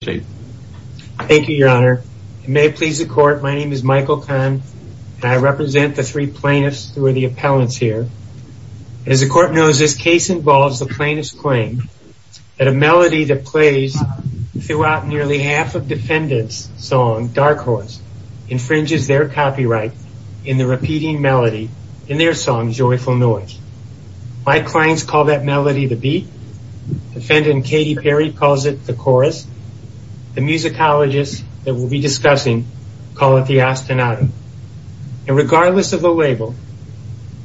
Thank you, your honor. It may please the court, my name is Michael Kahn and I represent the three plaintiffs who are the appellants here. As the court knows, this case involves the plaintiff's claim that a melody that plays throughout nearly half of defendant's song, Dark Horse, infringes their copyright in the repeating melody in their song, Joyful Noise. My clients call that melody the beat, defendant Katie Perry calls it the chorus, the musicologists that we'll be discussing call it the ostinato. And regardless of the label,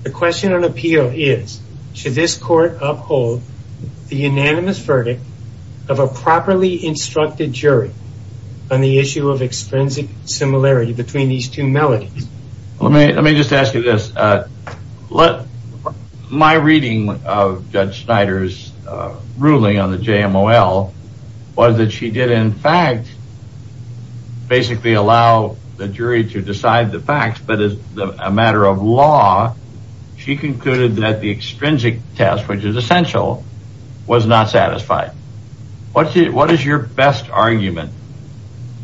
the question on appeal is, should this court uphold the unanimous verdict of a properly instructed jury on the issue of extrinsic similarity between these two melodies? Let me just ask you this. My reading of Judge Snyder's ruling on the JMOL was that she did in fact basically allow the jury to decide the facts, but as a matter of law, she concluded that the extrinsic test, which is essential, was not satisfied. What is your best argument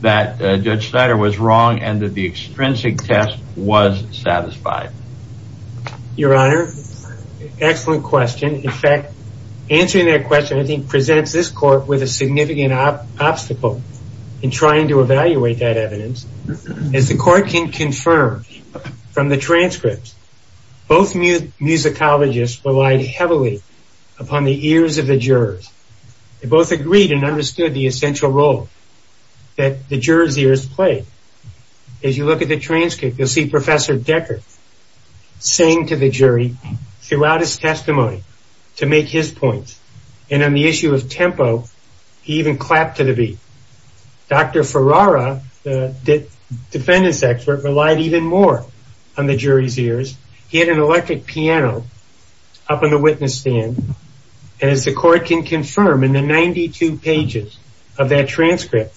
that Judge Snyder was wrong and that the extrinsic test was satisfied? Your Honor, excellent question. In fact, answering that question I think presents this court with a significant obstacle in trying to evaluate that evidence. As the court can confirm from the transcripts, both musicologists relied heavily upon the ears of the jurors. They both agreed and understood the essential role that the jurors' ears played. As you look at the transcript, you'll see Professor Decker saying to the jury throughout his testimony to make his point, and on the issue of tempo, he even clapped to the beat. Dr. Ferrara, the defendant's expert, relied even more on the jury's ears. He had an electric piano up on the witness stand, and as the court can confirm in the 92 pages of that transcript,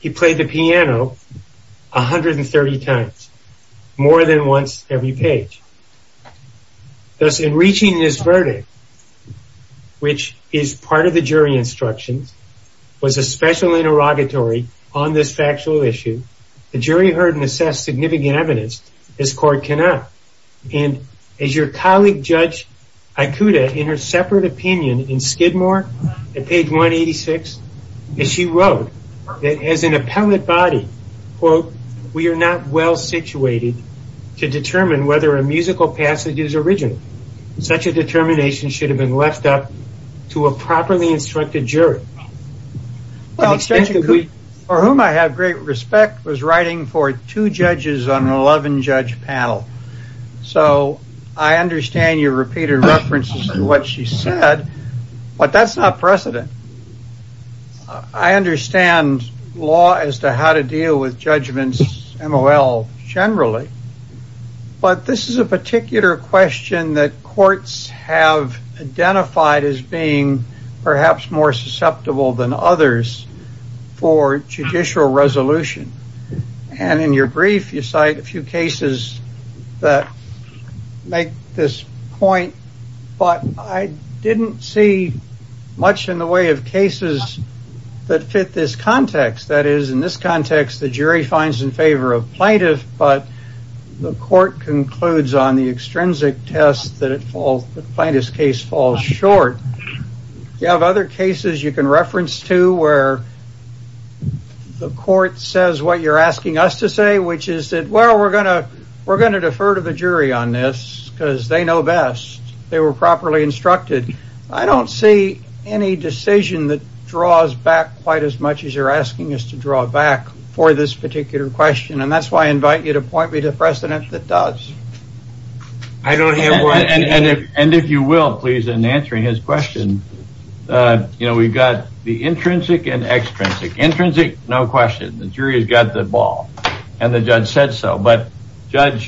he played the piano 130 times, more than once every page. Thus, in reaching this verdict, which is part of the jury instructions, was a special interrogatory on this factual issue, the jury heard and assessed significant evidence. As your colleague, Judge Aikuda, in her separate opinion in Skidmore at page 186, she wrote that as an appellate body, quote, we are not well situated to determine whether a musical passage is original. Such a determination should have been left up to a properly instructed jury. For whom I have great respect was writing for two judges on an 11-judge panel, so I understand your repeated references to what she said, but that's not precedent. I understand law as to how to deal with judgments, MOL generally, but this is a particular question that courts have identified as being perhaps more susceptible than others for judicial resolution. In your brief, you cite a few cases that make this point, but I didn't see much in the way of cases that fit this context. That is, in this context, the jury finds in favor of plaintiff, but the court concludes on the extrinsic test that the plaintiff's case falls short. You have other cases you can reference to where the court says what you're asking us to say, which is that, well, we're going to defer to the jury on this because they know best. They were properly instructed. I don't see any decision that draws back quite as much as you're asking us to draw back for this particular question, and that's why I invite you to point me to precedent that does. I don't have one. And if you will, please, in answering his question, you know, we've got the intrinsic and extrinsic. Intrinsic, no question. The jury has got the ball, and the judge said so, but Judge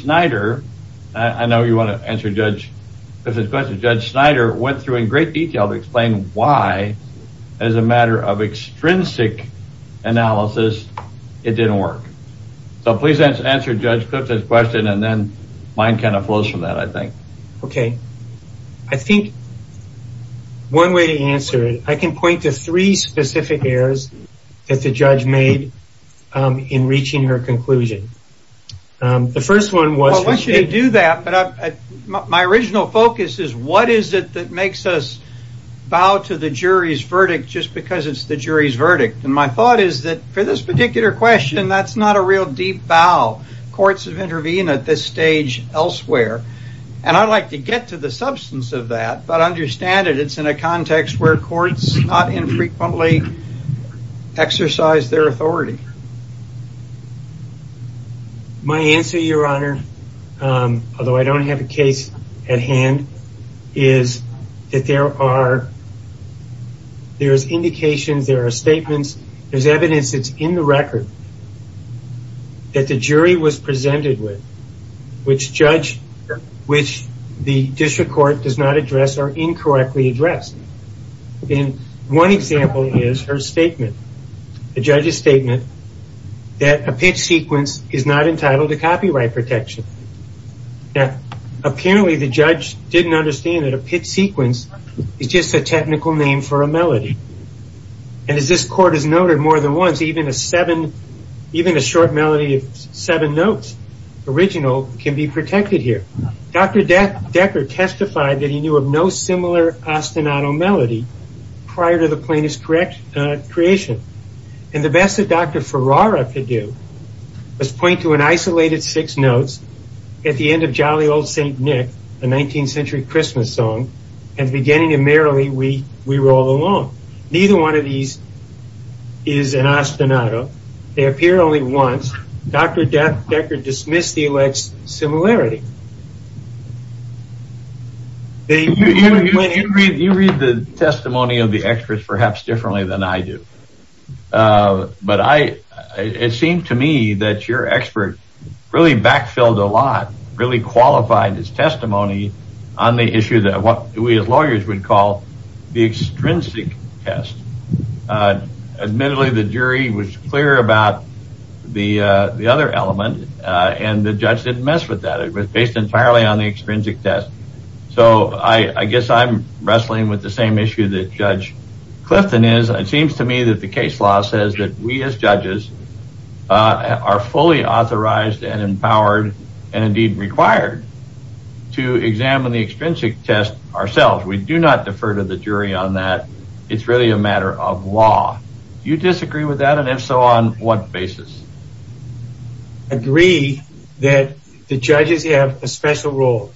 Snyder, I know you want to answer Judge Clifton's question. Judge Snyder went through in great detail to explain why, as a matter of extrinsic analysis, it didn't work. So please answer Judge Clifton's question, and then mine kind of flows from that, I think. Okay. I think one way to answer it, I can point to three specific errors that the judge made in reaching her conclusion. The first one was... Well, I shouldn't do that, but my original focus is what is it that makes us bow to the jury's verdict just because it's the jury's verdict? And my thought is that for this particular question, that's not a real deep bow. Courts have intervened at this stage elsewhere, and I'd like to get to the substance of that, but understand that it's in a context where courts not infrequently exercise their authority. My answer, Your Honor, although I don't have a case at hand, is that there are indications, there are statements, there's evidence that's in the record that the jury was presented with, which the district court does not address or incorrectly addressed. One example is her statement, the judge's statement, that a pitch sequence is not entitled to copyright protection. Apparently the judge didn't understand that a pitch sequence is just a technical name for a melody. And as this court has noted more than once, even a short melody of seven notes, original, can be protected here. Dr. Decker testified that he knew of no similar ostinato melody prior to the plaintiff's creation. And the best that Dr. Ferrara could do was point to an isolated six notes at the end of Jolly Old St. Nick, a 19th century Christmas song, and the beginning of Merrily We Roll Along. Neither one of these is an ostinato. They appear only once. Dr. Decker dismissed the alleged similarity. You read the testimony of the experts perhaps differently than I do. But it seemed to me that your expert really backfilled a lot, really qualified his testimony on the issue that what we as lawyers would call the extrinsic test. Admittedly, the jury was clear about the other element, and the judge didn't mess with that. It was based entirely on the extrinsic test. So I guess I'm wrestling with the same issue that Judge Clifton is. It seems to me that the case law says that we as judges are fully authorized and empowered and indeed required to examine the extrinsic test ourselves. We do not defer to the jury on that. It's really a matter of law. Do you disagree with that, and if so, on what basis? I agree that the judges have a special role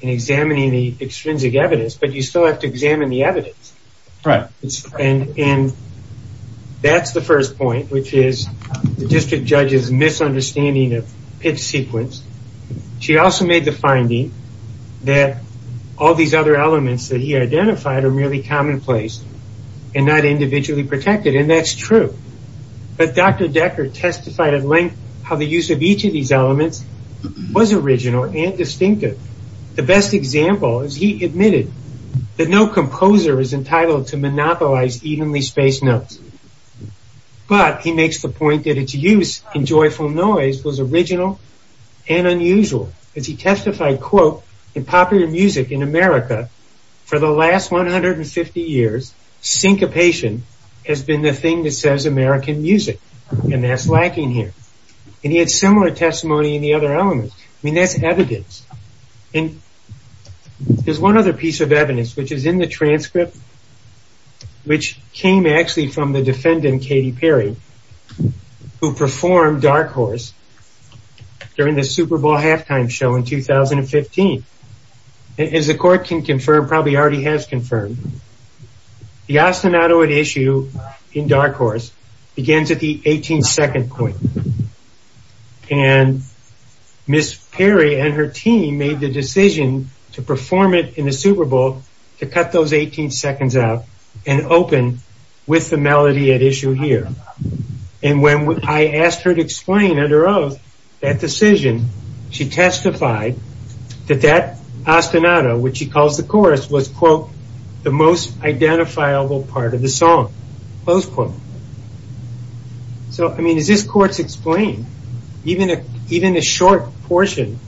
in examining the extrinsic evidence, but you still have to examine the evidence. Right. And that's the first point, which is the district judge's misunderstanding of pitch sequence. She also made the finding that all these other elements that he identified are merely commonplace and not individually protected, and that's true. But Dr. Decker testified at length how the use of each of these elements was original and distinctive. The best example is he admitted that no composer is entitled to monopolize evenly spaced notes. But he makes the point that its use in joyful noise was original and unusual. As he testified, quote, in popular music in America for the last 150 years, syncopation has been the thing that says American music, and that's lacking here. And he had similar testimony in the other elements. I mean, that's evidence. And there's one other piece of evidence, which is in the transcript, which came actually from the defendant, Katy Perry, who performed Dark Horse during the Super Bowl halftime show in 2015. As the court can confirm, probably already has confirmed, the ostinatoid issue in Dark Horse begins at the 18 second point. And Miss Perry and her team made the decision to perform it in the Super Bowl to cut those 18 seconds out and open with the melody at issue here. And when I asked her to explain under oath that decision, she testified that that ostinato, which she calls the chorus, was, quote, the most identifiable part of the song, close quote. So, I mean, as this court's explained, even a short portion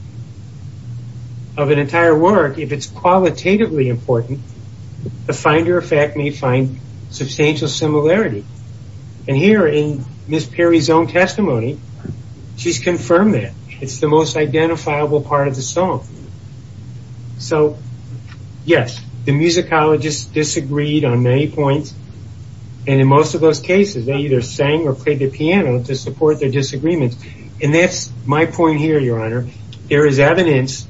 of an entire work, if it's qualitatively important, the finder of fact may find substantial similarity. And here, in Miss Perry's own testimony, she's confirmed that. It's the most identifiable part of the song. So, yes, the musicologist disagreed on many points. And in most of those cases, they either sang or played the piano to support their disagreements. And that's my point here, Your Honor. There is evidence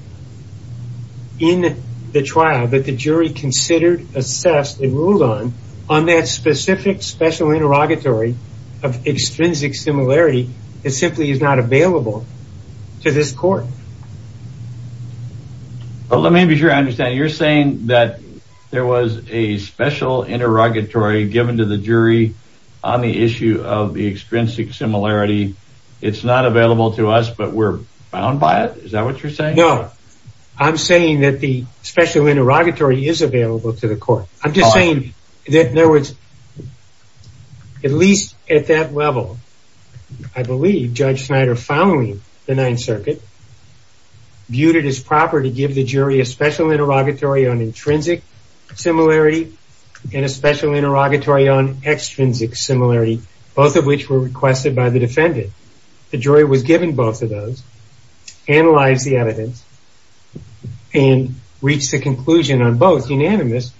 in the trial that the jury considered, assessed, and ruled on, on that specific special interrogatory of extrinsic similarity that simply is not available to this court. Let me be sure I understand. Now, you're saying that there was a special interrogatory given to the jury on the issue of the extrinsic similarity. It's not available to us, but we're bound by it? Is that what you're saying? No. I'm saying that the special interrogatory is available to the court. I'm just saying that there was, at least at that level, I believe, Judge Snyder, following the Ninth Circuit, viewed it as proper to give the jury a special interrogatory on intrinsic similarity and a special interrogatory on extrinsic similarity, both of which were requested by the defendant. The jury was given both of those, analyzed the evidence, and reached the conclusion on both, unanimous,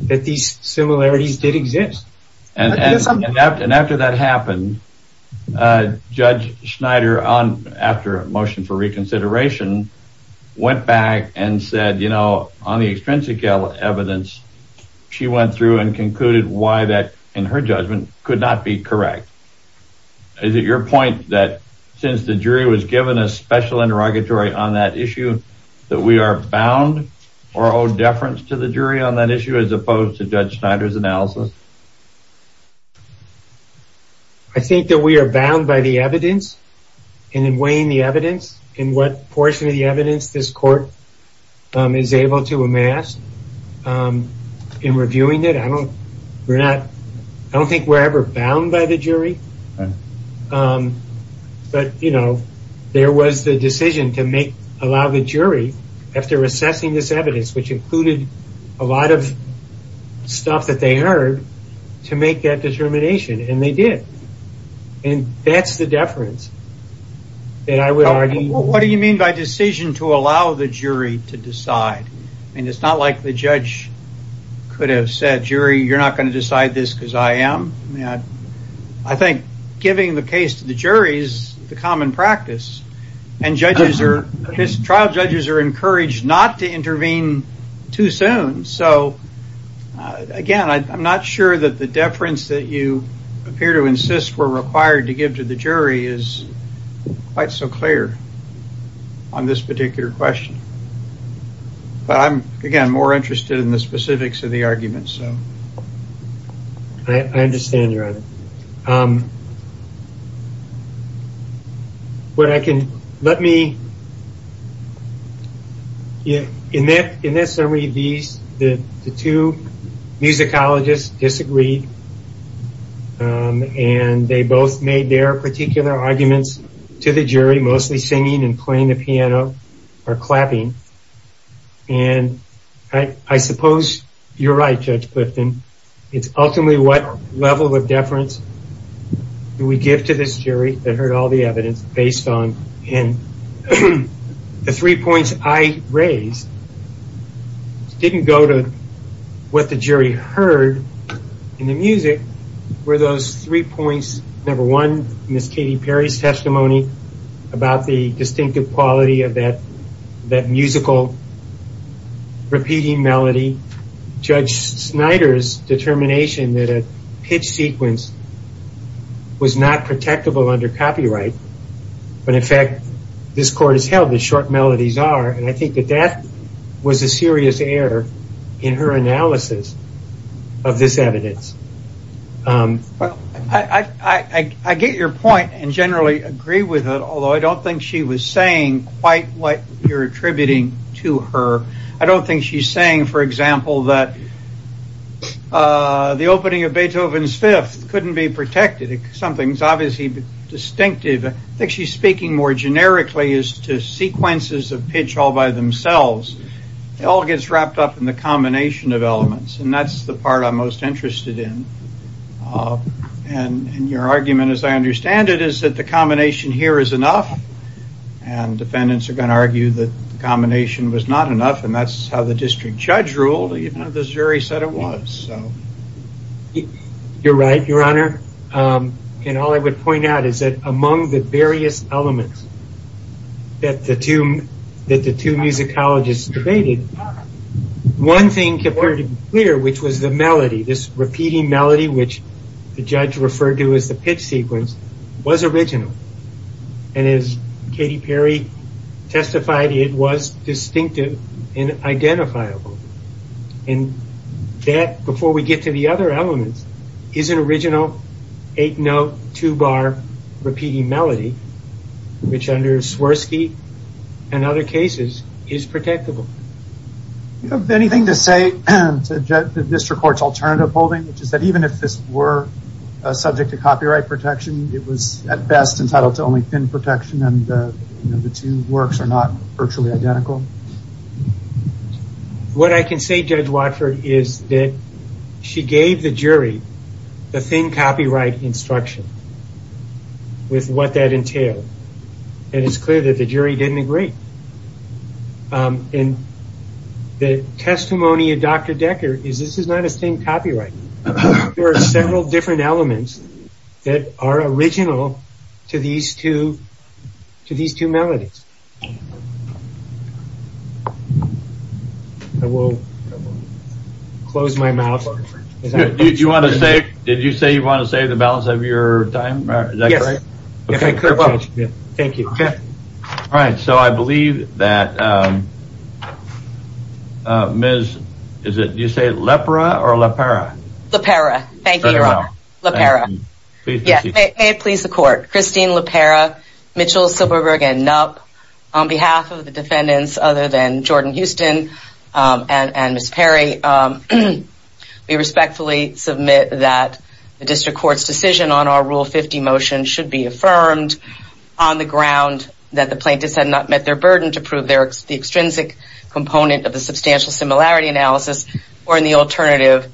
that these similarities did exist. And after that happened, Judge Snyder, after a motion for reconsideration, went back and said, you know, on the extrinsic evidence, she went through and concluded why that, in her judgment, could not be correct. Is it your point that, since the jury was given a special interrogatory on that issue, that we are bound or owe deference to the jury on that issue, as opposed to Judge Snyder's analysis? I think that we are bound by the evidence, and in weighing the evidence, in what portion of the evidence this court is able to amass, in reviewing it, I don't think we're ever bound by the jury. But, you know, there was the decision to allow the jury, after assessing this evidence, which included a lot of stuff that they heard, to make that determination, and they did. And that's the deference that I would argue. What do you mean by decision to allow the jury to decide? I mean, it's not like the judge could have said, jury, you're not going to decide this because I am. I think giving the case to the jury is the common practice. And trial judges are encouraged not to intervene too soon. So, again, I'm not sure that the deference that you appear to insist were required to give to the jury is quite so clear on this particular question. But I'm, again, more interested in the specifics of the argument. But I can, let me, in that summary, the two musicologists disagreed, and they both made their particular arguments to the jury, mostly singing and playing the piano, or clapping. And I suppose you're right, Judge Clifton. It's ultimately what level of deference do we give to this jury that heard all the evidence based on, and the three points I raised didn't go to what the jury heard in the music, were those three points, number one, Miss Katy Perry's testimony about the distinctive quality of that musical repeating melody, Judge Snyder's determination that a pitch sequence was not protectable under copyright, but, in fact, this court has held that short melodies are, and I think that that was a serious error in her analysis of this evidence. Well, I get your point and generally agree with it, although I don't think she was saying quite what you're attributing to her. I don't think she's saying, for example, that the opening of Beethoven's Fifth couldn't be protected. Something's obviously distinctive. I think she's speaking more generically as to sequences of pitch all by themselves. It all gets wrapped up in the combination of elements, and that's the part I'm most interested in. Your argument, as I understand it, is that the combination here is enough, and defendants are going to argue that the combination was not enough, and that's how the district judge ruled, even though the jury said it was. You're right, Your Honor. All I would point out is that among the various elements that the two musicologists debated, one thing was clear, which was the melody. This repeating melody, which the judge referred to as the pitch sequence, was original, and as Katy Perry testified, it was distinctive and identifiable. That, before we get to the other elements, is an original eight-note, two-bar repeating melody, which under Swirsky and other cases is protectable. Do you have anything to say to the district court's alternative holding, which is that even if this were subject to copyright protection, it was at best entitled to only thin protection, and the two works are not virtually identical? What I can say, Judge Watford, is that she gave the jury the thin copyright instruction with what that entailed, and it's clear that the jury didn't agree. The testimony of Dr. Decker is that this is not a thin copyright. There are several different elements that are original to these two melodies. I will close my mouth. Did you say you want to save the balance of your time? Yes, if I could, Judge. Thank you. All right, so I believe that Ms., did you say Lepra or Lepara? Lepara. Thank you, Your Honor. Lepara. May it please the court. Christine Lepara, Mitchell, Silberberg, and Knupp, on behalf of the defendants other than Jordan Houston and Ms. Perry, we respectfully submit that the district court's decision on our Rule 50 motion should be affirmed on the ground that the plaintiffs had not met their burden to prove the extrinsic component of the substantial similarity analysis or in the alternative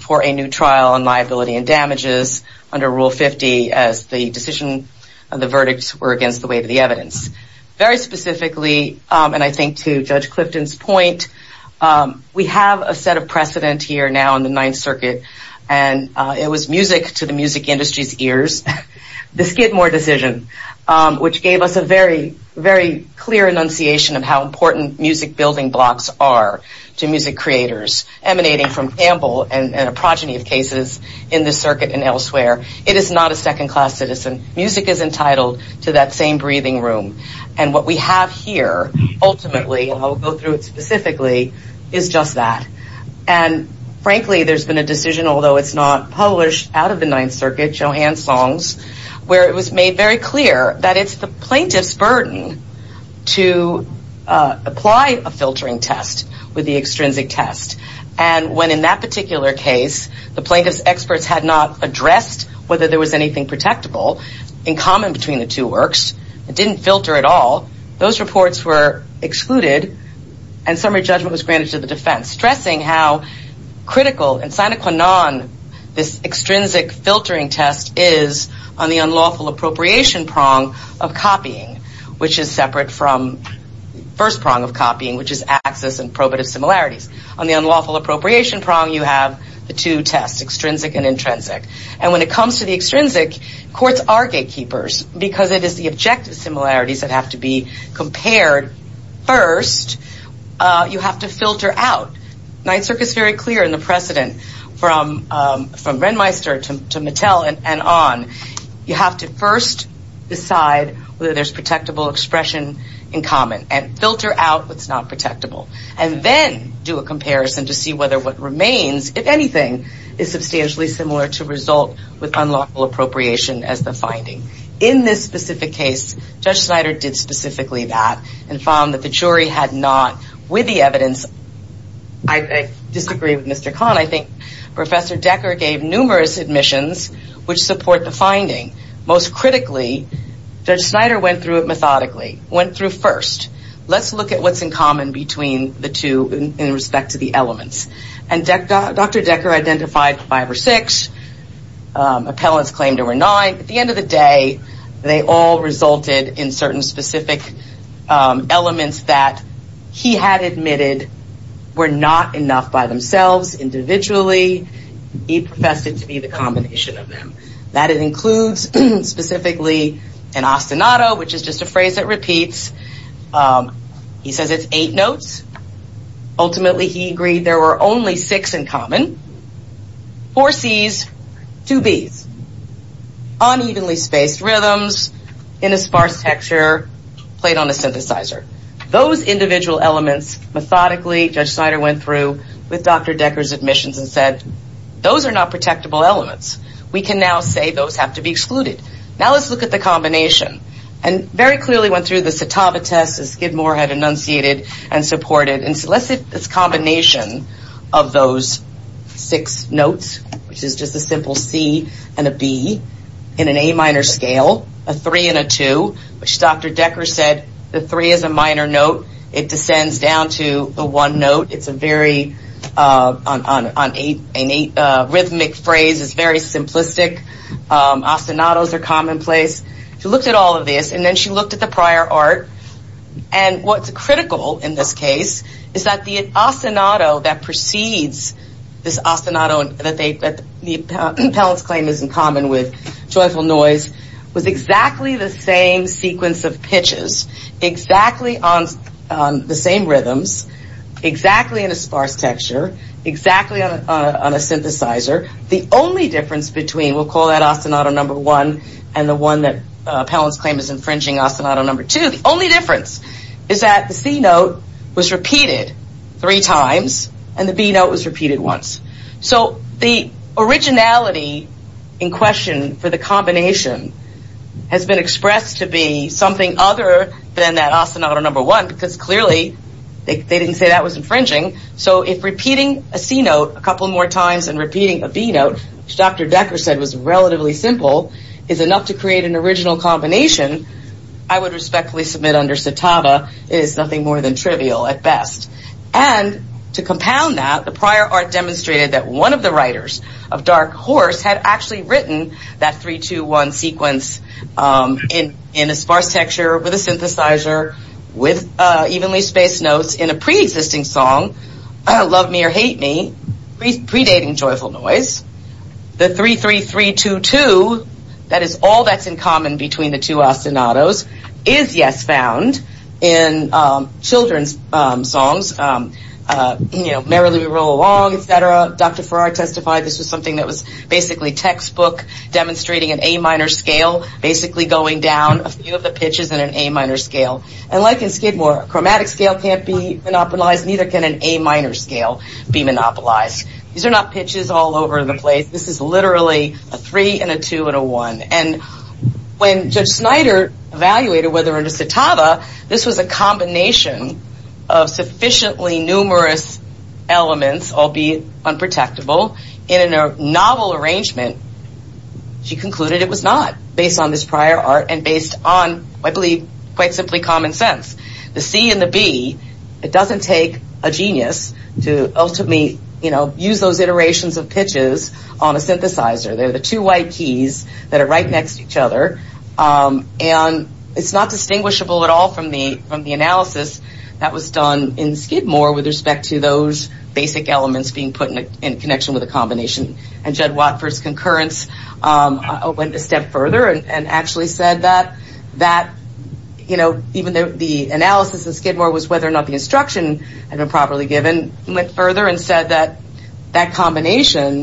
for a new trial on liability and damages under Rule 50 as the decision of the verdicts were against the weight of the evidence. Very specifically, and I think to Judge Clifton's point, we have a set of precedent here now in the Ninth Circuit, and it was music to the music industry's ears, the Skidmore decision, which gave us a very, very clear enunciation of how important music building blocks are to music creators, emanating from Campbell and a progeny of cases in this circuit and elsewhere. It is not a second-class citizen. Music is entitled to that same breathing room, and what we have here ultimately, and I'll go through it specifically, is just that. And frankly, there's been a decision, although it's not published, out of the Ninth Circuit, Joanne Song's, where it was made very clear that it's the plaintiff's burden to apply a filtering test with the extrinsic test. And when in that particular case, the plaintiff's experts had not addressed whether there was anything protectable in common between the two works, it didn't filter at all, those reports were excluded, and summary judgment was granted to the defense, stressing how critical and sine qua non this extrinsic filtering test is on the unlawful appropriation prong of copying, which is separate from the first prong of copying, which is access and probative similarities. On the unlawful appropriation prong, you have the two tests, extrinsic and intrinsic. And when it comes to the extrinsic, courts are gatekeepers, because it is the objective similarities that have to be compared first, you have to filter out. Ninth Circuit's very clear in the precedent from Renmeister to Mattel and on, you have to first decide whether there's protectable expression in common, and filter out what's not protectable. And then do a comparison to see whether what remains, if anything, is substantially similar to result with unlawful appropriation as the finding. In this specific case, Judge Snyder did specifically that, and found that the jury had not, with the evidence, I disagree with Mr. Kahn, I think Professor Decker gave numerous admissions which support the finding. Most critically, Judge Snyder went through it methodically, went through first. Let's look at what's in common between the two in respect to the elements. And Dr. Decker identified five or six, appellants claimed there were nine. At the end of the day, they all resulted in certain specific elements that he had admitted were not enough by themselves individually. He professed it to be the combination of them. That it includes specifically an ostinato, which is just a phrase that repeats. He says it's eight notes. Ultimately, he agreed there were only six in common. Four Cs, two Bs. Unevenly spaced rhythms, in a sparse texture, played on a synthesizer. Those individual elements, methodically, Judge Snyder went through with Dr. Decker's admissions and said, those are not protectable elements. We can now say those have to be excluded. Now let's look at the combination. And very clearly went through the Satava test as Skidmore had enunciated and supported. And so let's see this combination of those six notes, which is just a simple C and a B, in an A minor scale, a three and a two, which Dr. Decker said, the three is a minor note. It descends down to a one note. It's a very, an rhythmic phrase, it's very simplistic. Ostinatos are commonplace. She looked at all of this, and then she looked at the prior art. And what's critical in this case is that the ostinato that precedes this ostinato, that the appellant's claim is in common with joyful noise, was exactly the same sequence of pitches, exactly on the same rhythms, exactly in a sparse texture, exactly on a synthesizer. The only difference between, we'll call that ostinato number one, and the one that appellant's claim is infringing, ostinato number two, the only difference is that the C note was repeated three times, and the B note was repeated once. So the originality in question for the combination has been expressed to be something other than that ostinato number one, because clearly they didn't say that was infringing. So if repeating a C note a couple more times than repeating a B note, which Dr. Decker said was relatively simple, is enough to create an original combination, I would respectfully submit under Citava, it is nothing more than trivial at best. And to compound that, the prior art demonstrated that one of the writers of Dark Horse had actually written that 3-2-1 sequence in a sparse texture, with a synthesizer, with evenly spaced notes, in a pre-existing song, Love Me or Hate Me, predating Joyful Noise. The 3-3-3-2-2, that is all that's in common between the two ostinatos, is, yes, found in children's songs, you know, Merrily We Roll Along, etc. Dr. Farrar testified this was something that was basically textbook, demonstrating an A minor scale, basically going down a few of the pitches in an A minor scale. And like in Skidmore, a chromatic scale can't be monopolized, neither can an A minor scale be monopolized. These are not pitches all over the place. This is literally a 3 and a 2 and a 1. And when Judge Snyder evaluated whether, under Citava, this was a combination of sufficiently numerous elements, albeit unprotectable, in a novel arrangement, she concluded it was not, based on this prior art and based on, I believe, quite simply common sense. The C and the B, it doesn't take a genius to ultimately, you know, use those iterations of pitches on a synthesizer. They're the two white keys that are right next to each other. And it's not distinguishable at all from the analysis that was done in Skidmore with respect to those basic elements being put in connection with a combination. And Judd Watford's concurrence went a step further and actually said that, you know, even though the analysis in Skidmore was whether or not the instruction had been properly given, went further and said that that combination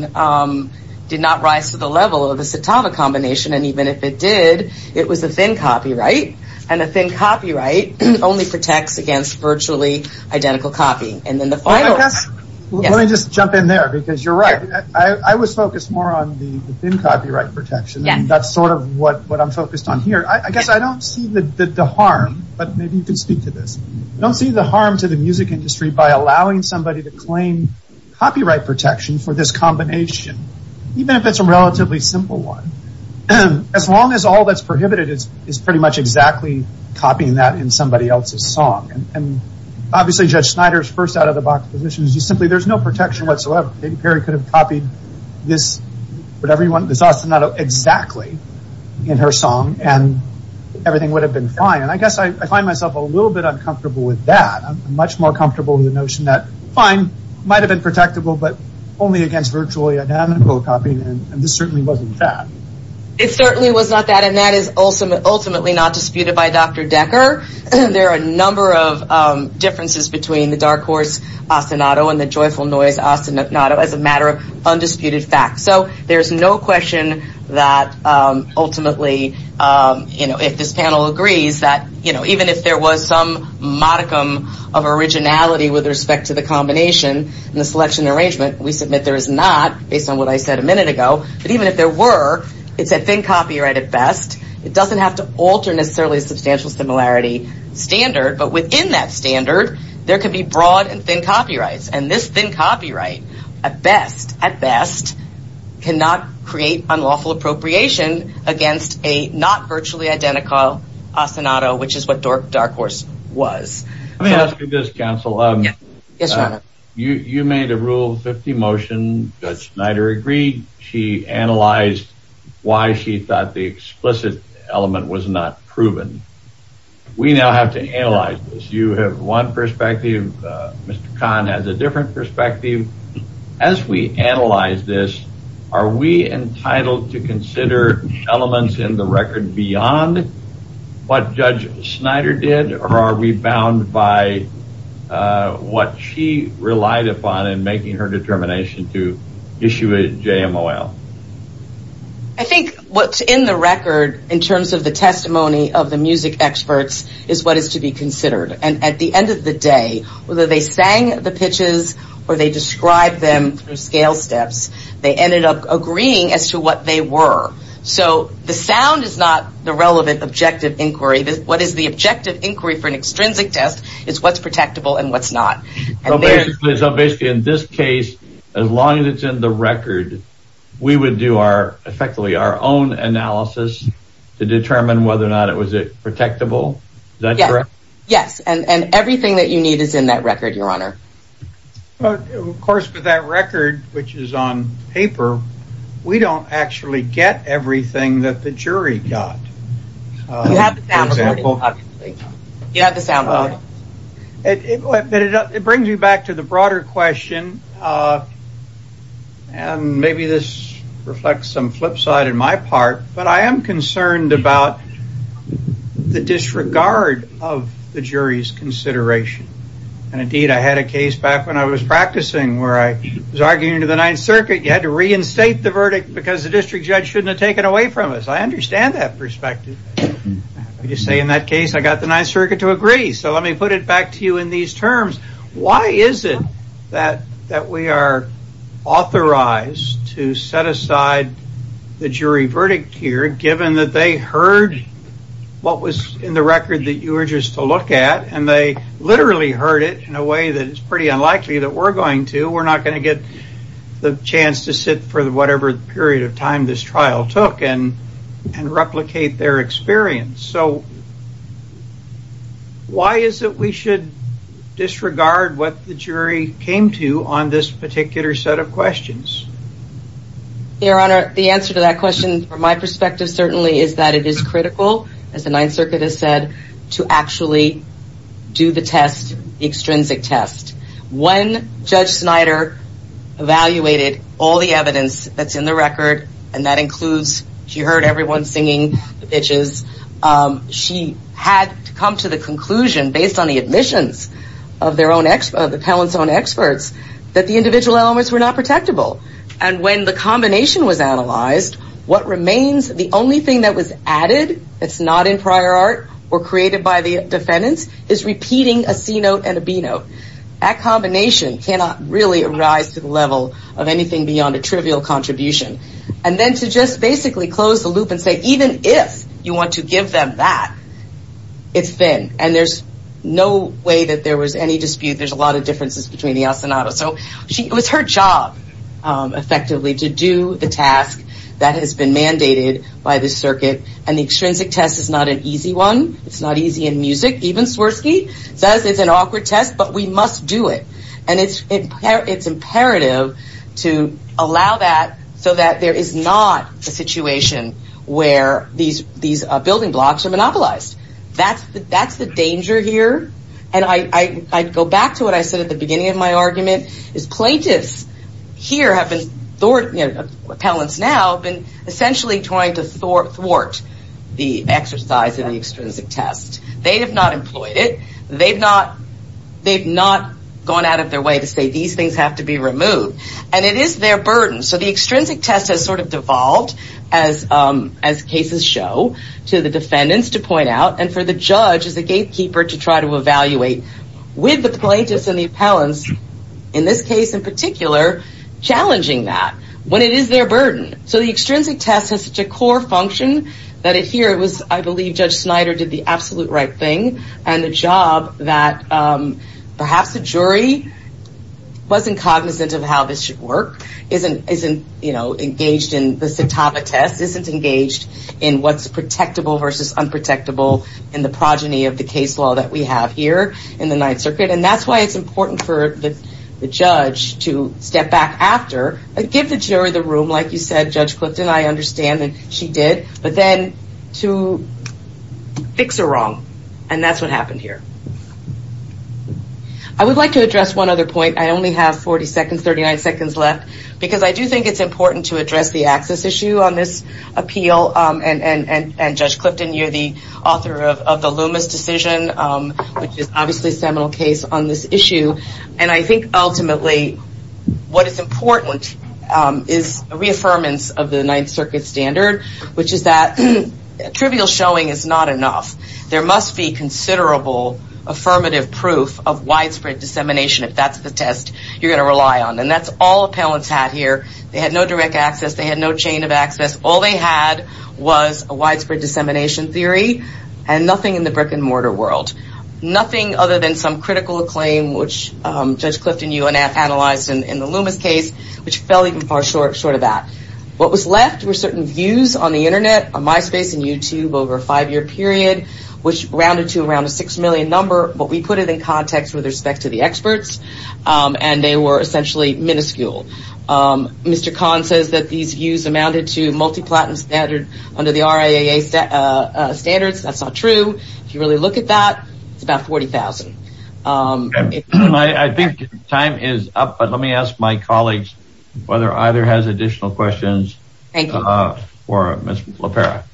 did not rise to the level of the Citava combination. And even if it did, it was a thin copyright. And a thin copyright only protects against virtually identical copying. Let me just jump in there because you're right. I was focused more on the thin copyright protection. That's sort of what I'm focused on here. I guess I don't see the harm, but maybe you can speak to this. I don't see the harm to the music industry by allowing somebody to claim copyright protection for this combination, even if it's a relatively simple one. As long as all that's prohibited is pretty much exactly copying that in somebody else's song. And obviously Judge Snyder's first out-of-the-box position is simply there's no protection whatsoever. Maybe Perry could have copied this, whatever you want, this ostinato exactly in her song and everything would have been fine. And I guess I find myself a little bit uncomfortable with that. I'm much more comfortable with the notion that fine, it might have been protectable, but only against virtually identical copying, and this certainly wasn't that. It certainly was not that, and that is ultimately not disputed by Dr. Decker. There are a number of differences between the dark horse ostinato and the joyful noise ostinato as a matter of undisputed fact. So there's no question that ultimately, you know, if this panel agrees that, you know, even if there was some modicum of originality with respect to the combination and the selection arrangement, we submit there is not, based on what I said a minute ago. But even if there were, it's a thin copyright at best. It doesn't have to alter necessarily a substantial similarity standard. But within that standard, there could be broad and thin copyrights. And this thin copyright at best, at best, cannot create unlawful appropriation against a not virtually identical ostinato, which is what dark horse was. Let me ask you this, counsel. Yes, your honor. You made a Rule 50 motion that Schneider agreed. She analyzed why she thought the explicit element was not proven. We now have to analyze this. You have one perspective. Mr. Kahn has a different perspective. As we analyze this, are we entitled to consider elements in the record beyond what Judge Schneider did or are we bound by what she relied upon in making her determination to issue a JMOL? I think what's in the record in terms of the testimony of the music experts is what is to be considered. And at the end of the day, whether they sang the pitches or they described them through scale steps, they ended up agreeing as to what they were. So the sound is not the relevant objective inquiry. What is the objective inquiry for an extrinsic test is what's protectable and what's not. So basically in this case, as long as it's in the record, we would do effectively our own analysis to determine whether or not it was protectable. Is that correct? Yes. And everything that you need is in that record, your honor. Of course, but that record, which is on paper, we don't actually get everything that the jury got. You have the sound recording. It brings me back to the broader question. And maybe this reflects some flip side in my part, but I am concerned about the disregard of the jury's consideration. And indeed, I had a case back when I was practicing where I was arguing to the Ninth Circuit. You had to reinstate the verdict because the district judge shouldn't have taken away from us. I understand that perspective. You say in that case, I got the Ninth Circuit to agree. So let me put it back to you in these terms. Why is it that we are authorized to set aside the jury verdict here, given that they heard what was in the record that you were just to look at, and they literally heard it in a way that it's pretty unlikely that we're going to. We're not going to get the chance to sit for whatever period of time this trial took. And replicate their experience. So why is it we should disregard what the jury came to on this particular set of questions? Your Honor, the answer to that question from my perspective certainly is that it is critical, as the Ninth Circuit has said, to actually do the test, the extrinsic test. When Judge Snyder evaluated all the evidence that's in the record, and that includes she heard everyone singing the pitches, she had to come to the conclusion based on the admissions of their own experts, the talent's own experts, that the individual elements were not protectable. And when the combination was analyzed, what remains, the only thing that was added, that's not in prior art or created by the defendants, is repeating a C note and a B note. That combination cannot really arise to the level of anything beyond a trivial contribution. And then to just basically close the loop and say even if you want to give them that, it's thin. And there's no way that there was any dispute. There's a lot of differences between the ostinato. So it was her job, effectively, to do the task that has been mandated by the circuit. And the extrinsic test is not an easy one. It's not easy in music. Even Swirsky says it's an awkward test, but we must do it. And it's imperative to allow that so that there is not a situation where these building blocks are monopolized. That's the danger here. And I go back to what I said at the beginning of my argument, is plaintiffs here have been, appellants now, have been essentially trying to thwart the exercise in the extrinsic test. They have not employed it. They've not gone out of their way to say these things have to be removed. And it is their burden. So the extrinsic test has sort of devolved, as cases show, to the defendants, to point out, and for the judge as a gatekeeper to try to evaluate with the plaintiffs and the appellants, in this case in particular, challenging that when it is their burden. So the extrinsic test has such a core function that here it was, I believe, Judge Snyder did the absolute right thing, and the job that perhaps the jury wasn't cognizant of how this should work, isn't engaged in the satava test, isn't engaged in what's protectable versus unprotectable in the progeny of the case law that we have here in the Ninth Circuit. And that's why it's important for the judge to step back after and give the jury the room, like you said, Judge Clifton. I understand that she did. But then to fix a wrong. And that's what happened here. I would like to address one other point. I only have 40 seconds, 39 seconds left, because I do think it's important to address the access issue on this appeal. And, Judge Clifton, you're the author of the Loomis decision, which is obviously a seminal case on this issue. And I think ultimately what is important is a reaffirmance of the Ninth Circuit standard, which is that trivial showing is not enough. There must be considerable affirmative proof of widespread dissemination. If that's the test you're going to rely on. And that's all appellants had here. They had no direct access. They had no chain of access. All they had was a widespread dissemination theory and nothing in the brick and mortar world. Nothing other than some critical acclaim, which Judge Clifton, you analyzed in the Loomis case, which fell even far short of that. What was left were certain views on the Internet, on MySpace and YouTube over a five-year period, which rounded to around a six million number. But we put it in context with respect to the experts. And they were essentially minuscule. Mr. Kahn says that these views amounted to multi-platinum standard under the RIAA standards. That's not true. If you really look at that, it's about 40,000. I think time is up. But let me ask my colleagues whether either has additional questions for Ms. LaPera.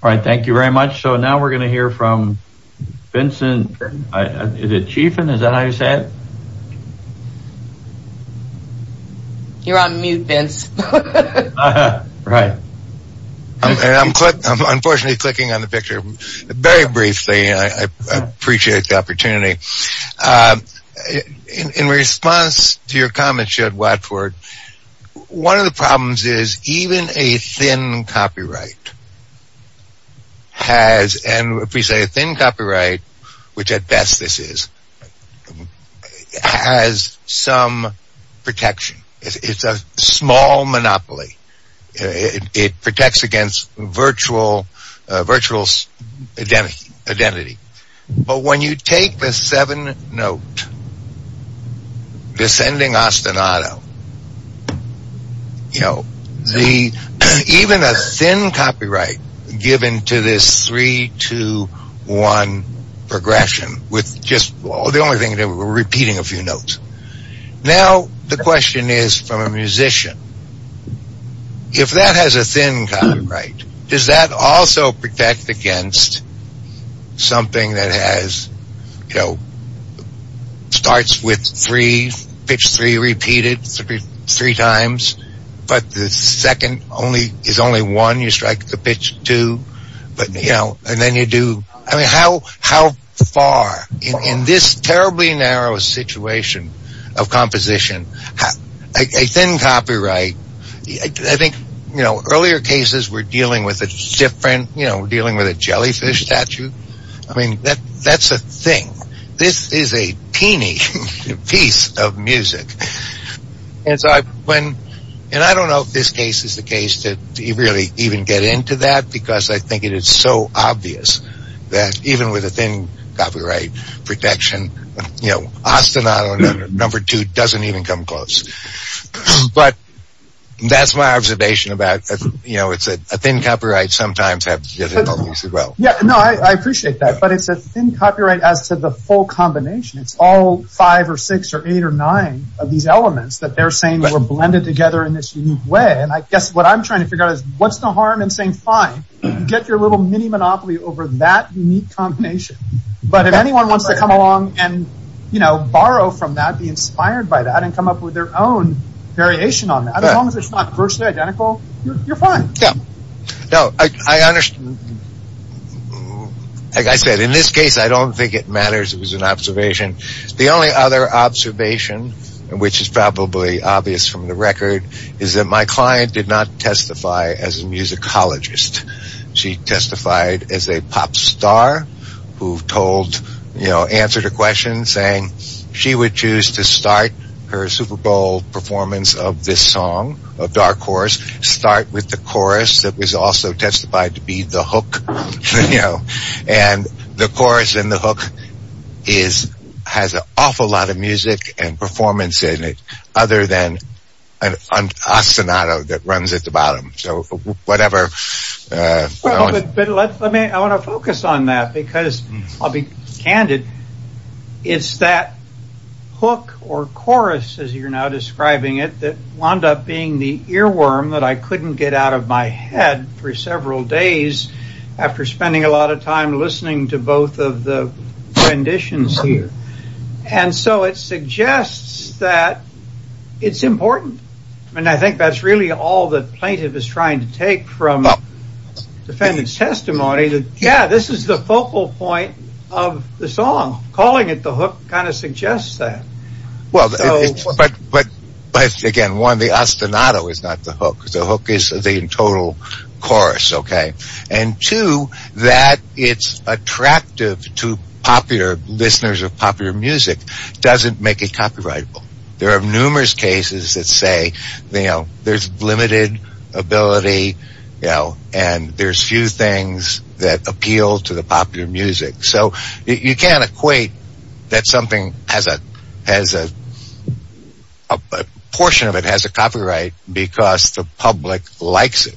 All right. Thank you very much. So now we're going to hear from Vincent. Is it Chiffin? Is that how you say it? You're on mute, Vince. Right. I'm unfortunately clicking on the picture. Very briefly, I appreciate the opportunity. In response to your comment, Judge Watford, one of the problems is even a thin copyright has, and if we say a thin copyright, which at best this is, has some protection. It's a small monopoly. It protects against virtual identity. But when you take the seven note descending ostinato, you know, even a thin copyright given to this three, two, one progression with just the only thing, we're repeating a few notes. Now the question is from a musician. If that has a thin copyright, does that also protect against something that has, you know, starts with three, pitch three repeated three times, but the second is only one. You strike the pitch two, but, you know, and then you do, I mean, how far? In this terribly narrow situation of composition, a thin copyright, I think, you know, earlier cases were dealing with a different, you know, dealing with a jellyfish statue. I mean, that's a thing. This is a teeny piece of music. And so when, and I don't know if this case is the case to really even get into that because I think it is so obvious that even with a thin copyright protection, you know, ostinato number two doesn't even come close. But that's my observation about, you know, it's a thin copyright sometimes. Yeah, no, I appreciate that. But it's a thin copyright as to the full combination. It's all five or six or eight or nine of these elements that they're saying were blended together in this way. And I guess what I'm trying to figure out is what's the harm in saying, fine, get your little mini monopoly over that unique combination. But if anyone wants to come along and, you know, borrow from that, be inspired by that, and come up with their own variation on that, as long as it's not virtually identical, you're fine. Yeah. No, I understand. Like I said, in this case, I don't think it matters. It was an observation. The only other observation, which is probably obvious from the record, is that my client did not testify as a musicologist. She testified as a pop star who told, you know, answered a question saying she would choose to start her Super Bowl performance of this song, of Dark Horse, start with the chorus that was also testified to be the hook, you know, and the chorus and the hook has an awful lot of music and performance in it, other than a sonata that runs at the bottom. So whatever. But I want to focus on that because I'll be candid. It's that hook or chorus, as you're now describing it, that wound up being the earworm that I couldn't get out of my head for several days after spending a lot of time listening to both of the renditions here. And so it suggests that it's important. And I think that's really all the plaintiff is trying to take from the defendant's testimony. Yeah, this is the focal point of the song. Calling it the hook kind of suggests that. But again, one, the ostinato is not the hook. The hook is the total chorus, OK? And two, that it's attractive to popular listeners of popular music doesn't make it copyrightable. There are numerous cases that say, you know, there's limited ability, you know, and there's few things that appeal to the popular music. So you can't equate that something has a portion of it has a copyright because the public likes it.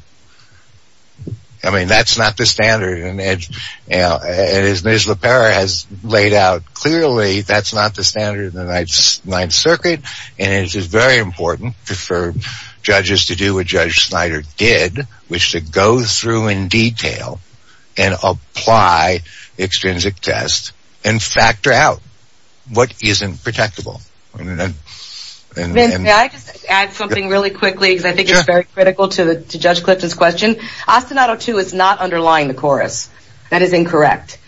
I mean, that's not the standard. And as Ms. LePere has laid out clearly, that's not the standard of the Ninth Circuit. And it is very important for judges to do what Judge Snyder did, which to go through in detail and apply extrinsic tests and factor out what isn't protectable. May I just add something really quickly, because I think it's very critical to Judge Clifton's question. Ostinato two is not underlying the chorus. That is incorrect.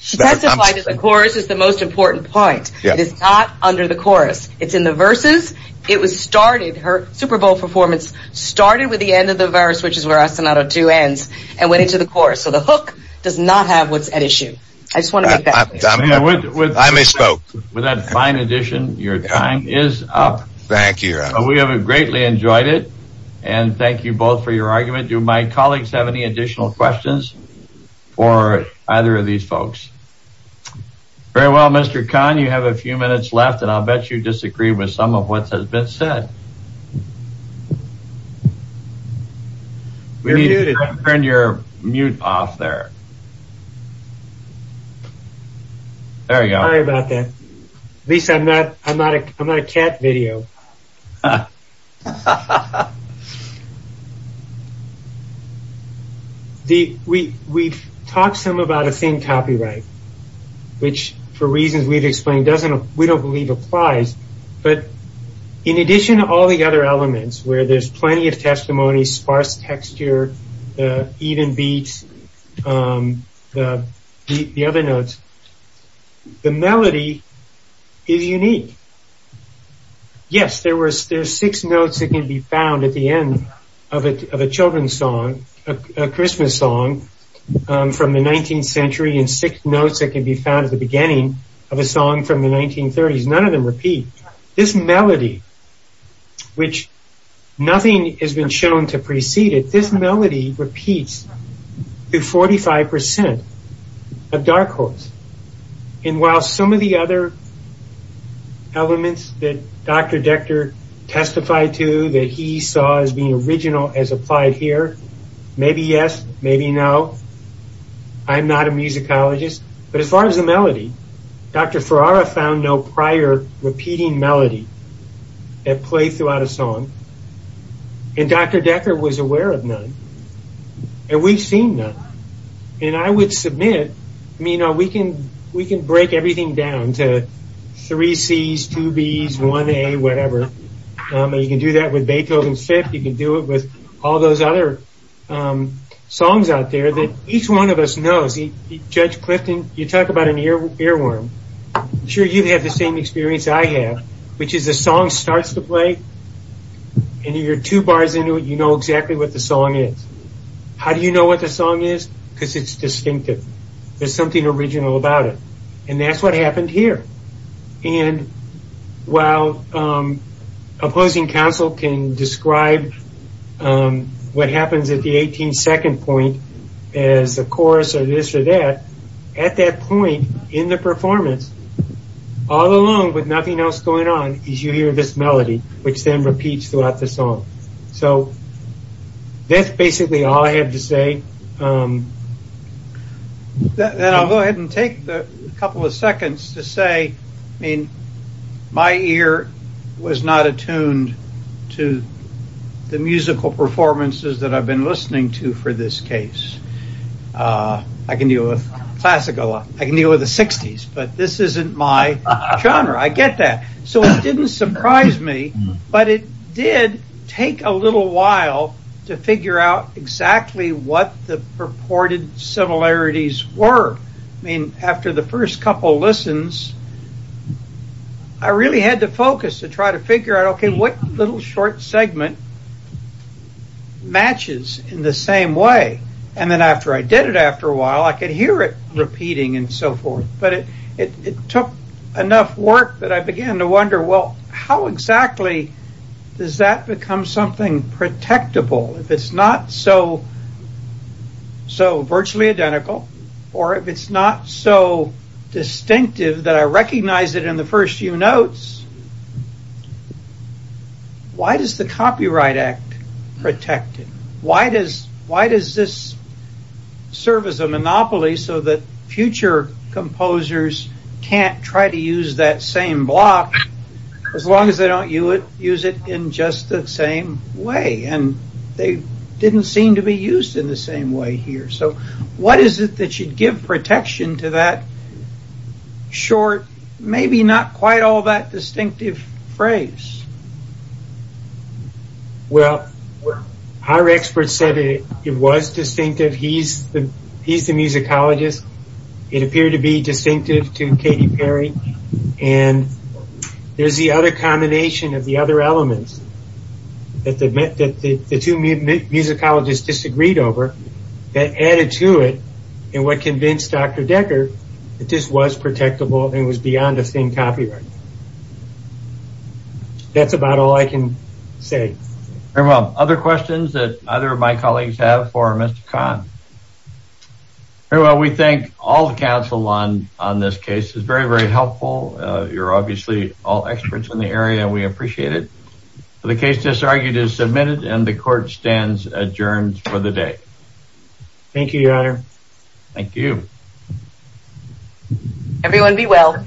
She testified that the chorus is the most important point. It is not under the chorus. It's in the verses. It was started. Her Super Bowl performance started with the end of the verse, which is where Ostinato two ends, and went into the chorus. So the hook does not have what's at issue. I just want to make that clear. I misspoke. With that fine addition, your time is up. Thank you. We have greatly enjoyed it. And thank you both for your argument. Do my colleagues have any additional questions for either of these folks? Very well, Mr. Kahn, you have a few minutes left, and I'll bet you disagree with some of what has been said. We need to turn your mute off there. Sorry about that. At least I'm not a cat video. We've talked some about a theme copyright, which, for reasons we've explained, we don't believe applies. But in addition to all the other elements, where there's plenty of testimony, sparse texture, even beats, the other notes, the melody is unique. Yes, there are six notes that can be found at the end of a children's song, a Christmas song from the 19th century, and six notes that can be found at the beginning of a song from the 1930s. None of them repeat. This melody, which nothing has been shown to precede it, this melody repeats to 45% of dark chords. And while some of the other elements that Dr. Decker testified to that he saw as being original as applied here, maybe yes, maybe no, I'm not a musicologist, but as far as the melody, Dr. Ferrara found no prior repeating melody that played throughout a song. And Dr. Decker was aware of none. And we've seen none. And I would submit, we can break everything down to three Cs, two Bs, one A, whatever. You can do that with Beethoven's Fifth. You can do it with all those other songs out there that each one of us knows. Judge Clifton, you talk about an earworm. I'm sure you've had the same experience I have, which is the song starts to play, and you're two bars into it, you know exactly what the song is. How do you know what the song is? Because it's distinctive. There's something original about it. And that's what happened here. And while opposing counsel can describe what happens at the 18th second point as a chorus or this or that, at that point in the performance, all along with nothing else going on, is you hear this melody, which then repeats throughout the song. So that's basically all I have to say. Then I'll go ahead and take a couple of seconds to say, I mean, my ear was not attuned to the musical performances that I've been listening to for this case. I can deal with a classic a lot. I can deal with the 60s, but this isn't my genre. I get that. So it didn't surprise me. But it did take a little while to figure out exactly what the purported similarities were. I mean, after the first couple listens, I really had to focus to try to figure out, okay, what little short segment matches in the same way? And then after I did it after a while, I could hear it repeating and so forth. But it took enough work that I began to wonder, well, how exactly does that become something protectable? If it's not so virtually identical or if it's not so distinctive that I recognize it in the first few notes, why does the Copyright Act protect it? Why does this serve as a monopoly so that future composers can't try to use that same block, as long as they don't use it in just the same way? And they didn't seem to be used in the same way here. So what is it that should give protection to that short, maybe not quite all that distinctive phrase? Well, our experts said it was distinctive. He's the musicologist. It appeared to be distinctive to Katy Perry. And there's the other combination of the other elements that the two musicologists disagreed over that added to it and what convinced Dr. Decker that this was protectable and was beyond a thin copyright. That's about all I can say. Very well. Other questions that either of my colleagues have for Mr. Kahn? Very well. We thank all the counsel on this case. It's very, very helpful. You're obviously all experts in the area. We appreciate it. The case disargued is submitted and the court stands adjourned for the day. Thank you, Your Honor. Thank you. Everyone be well.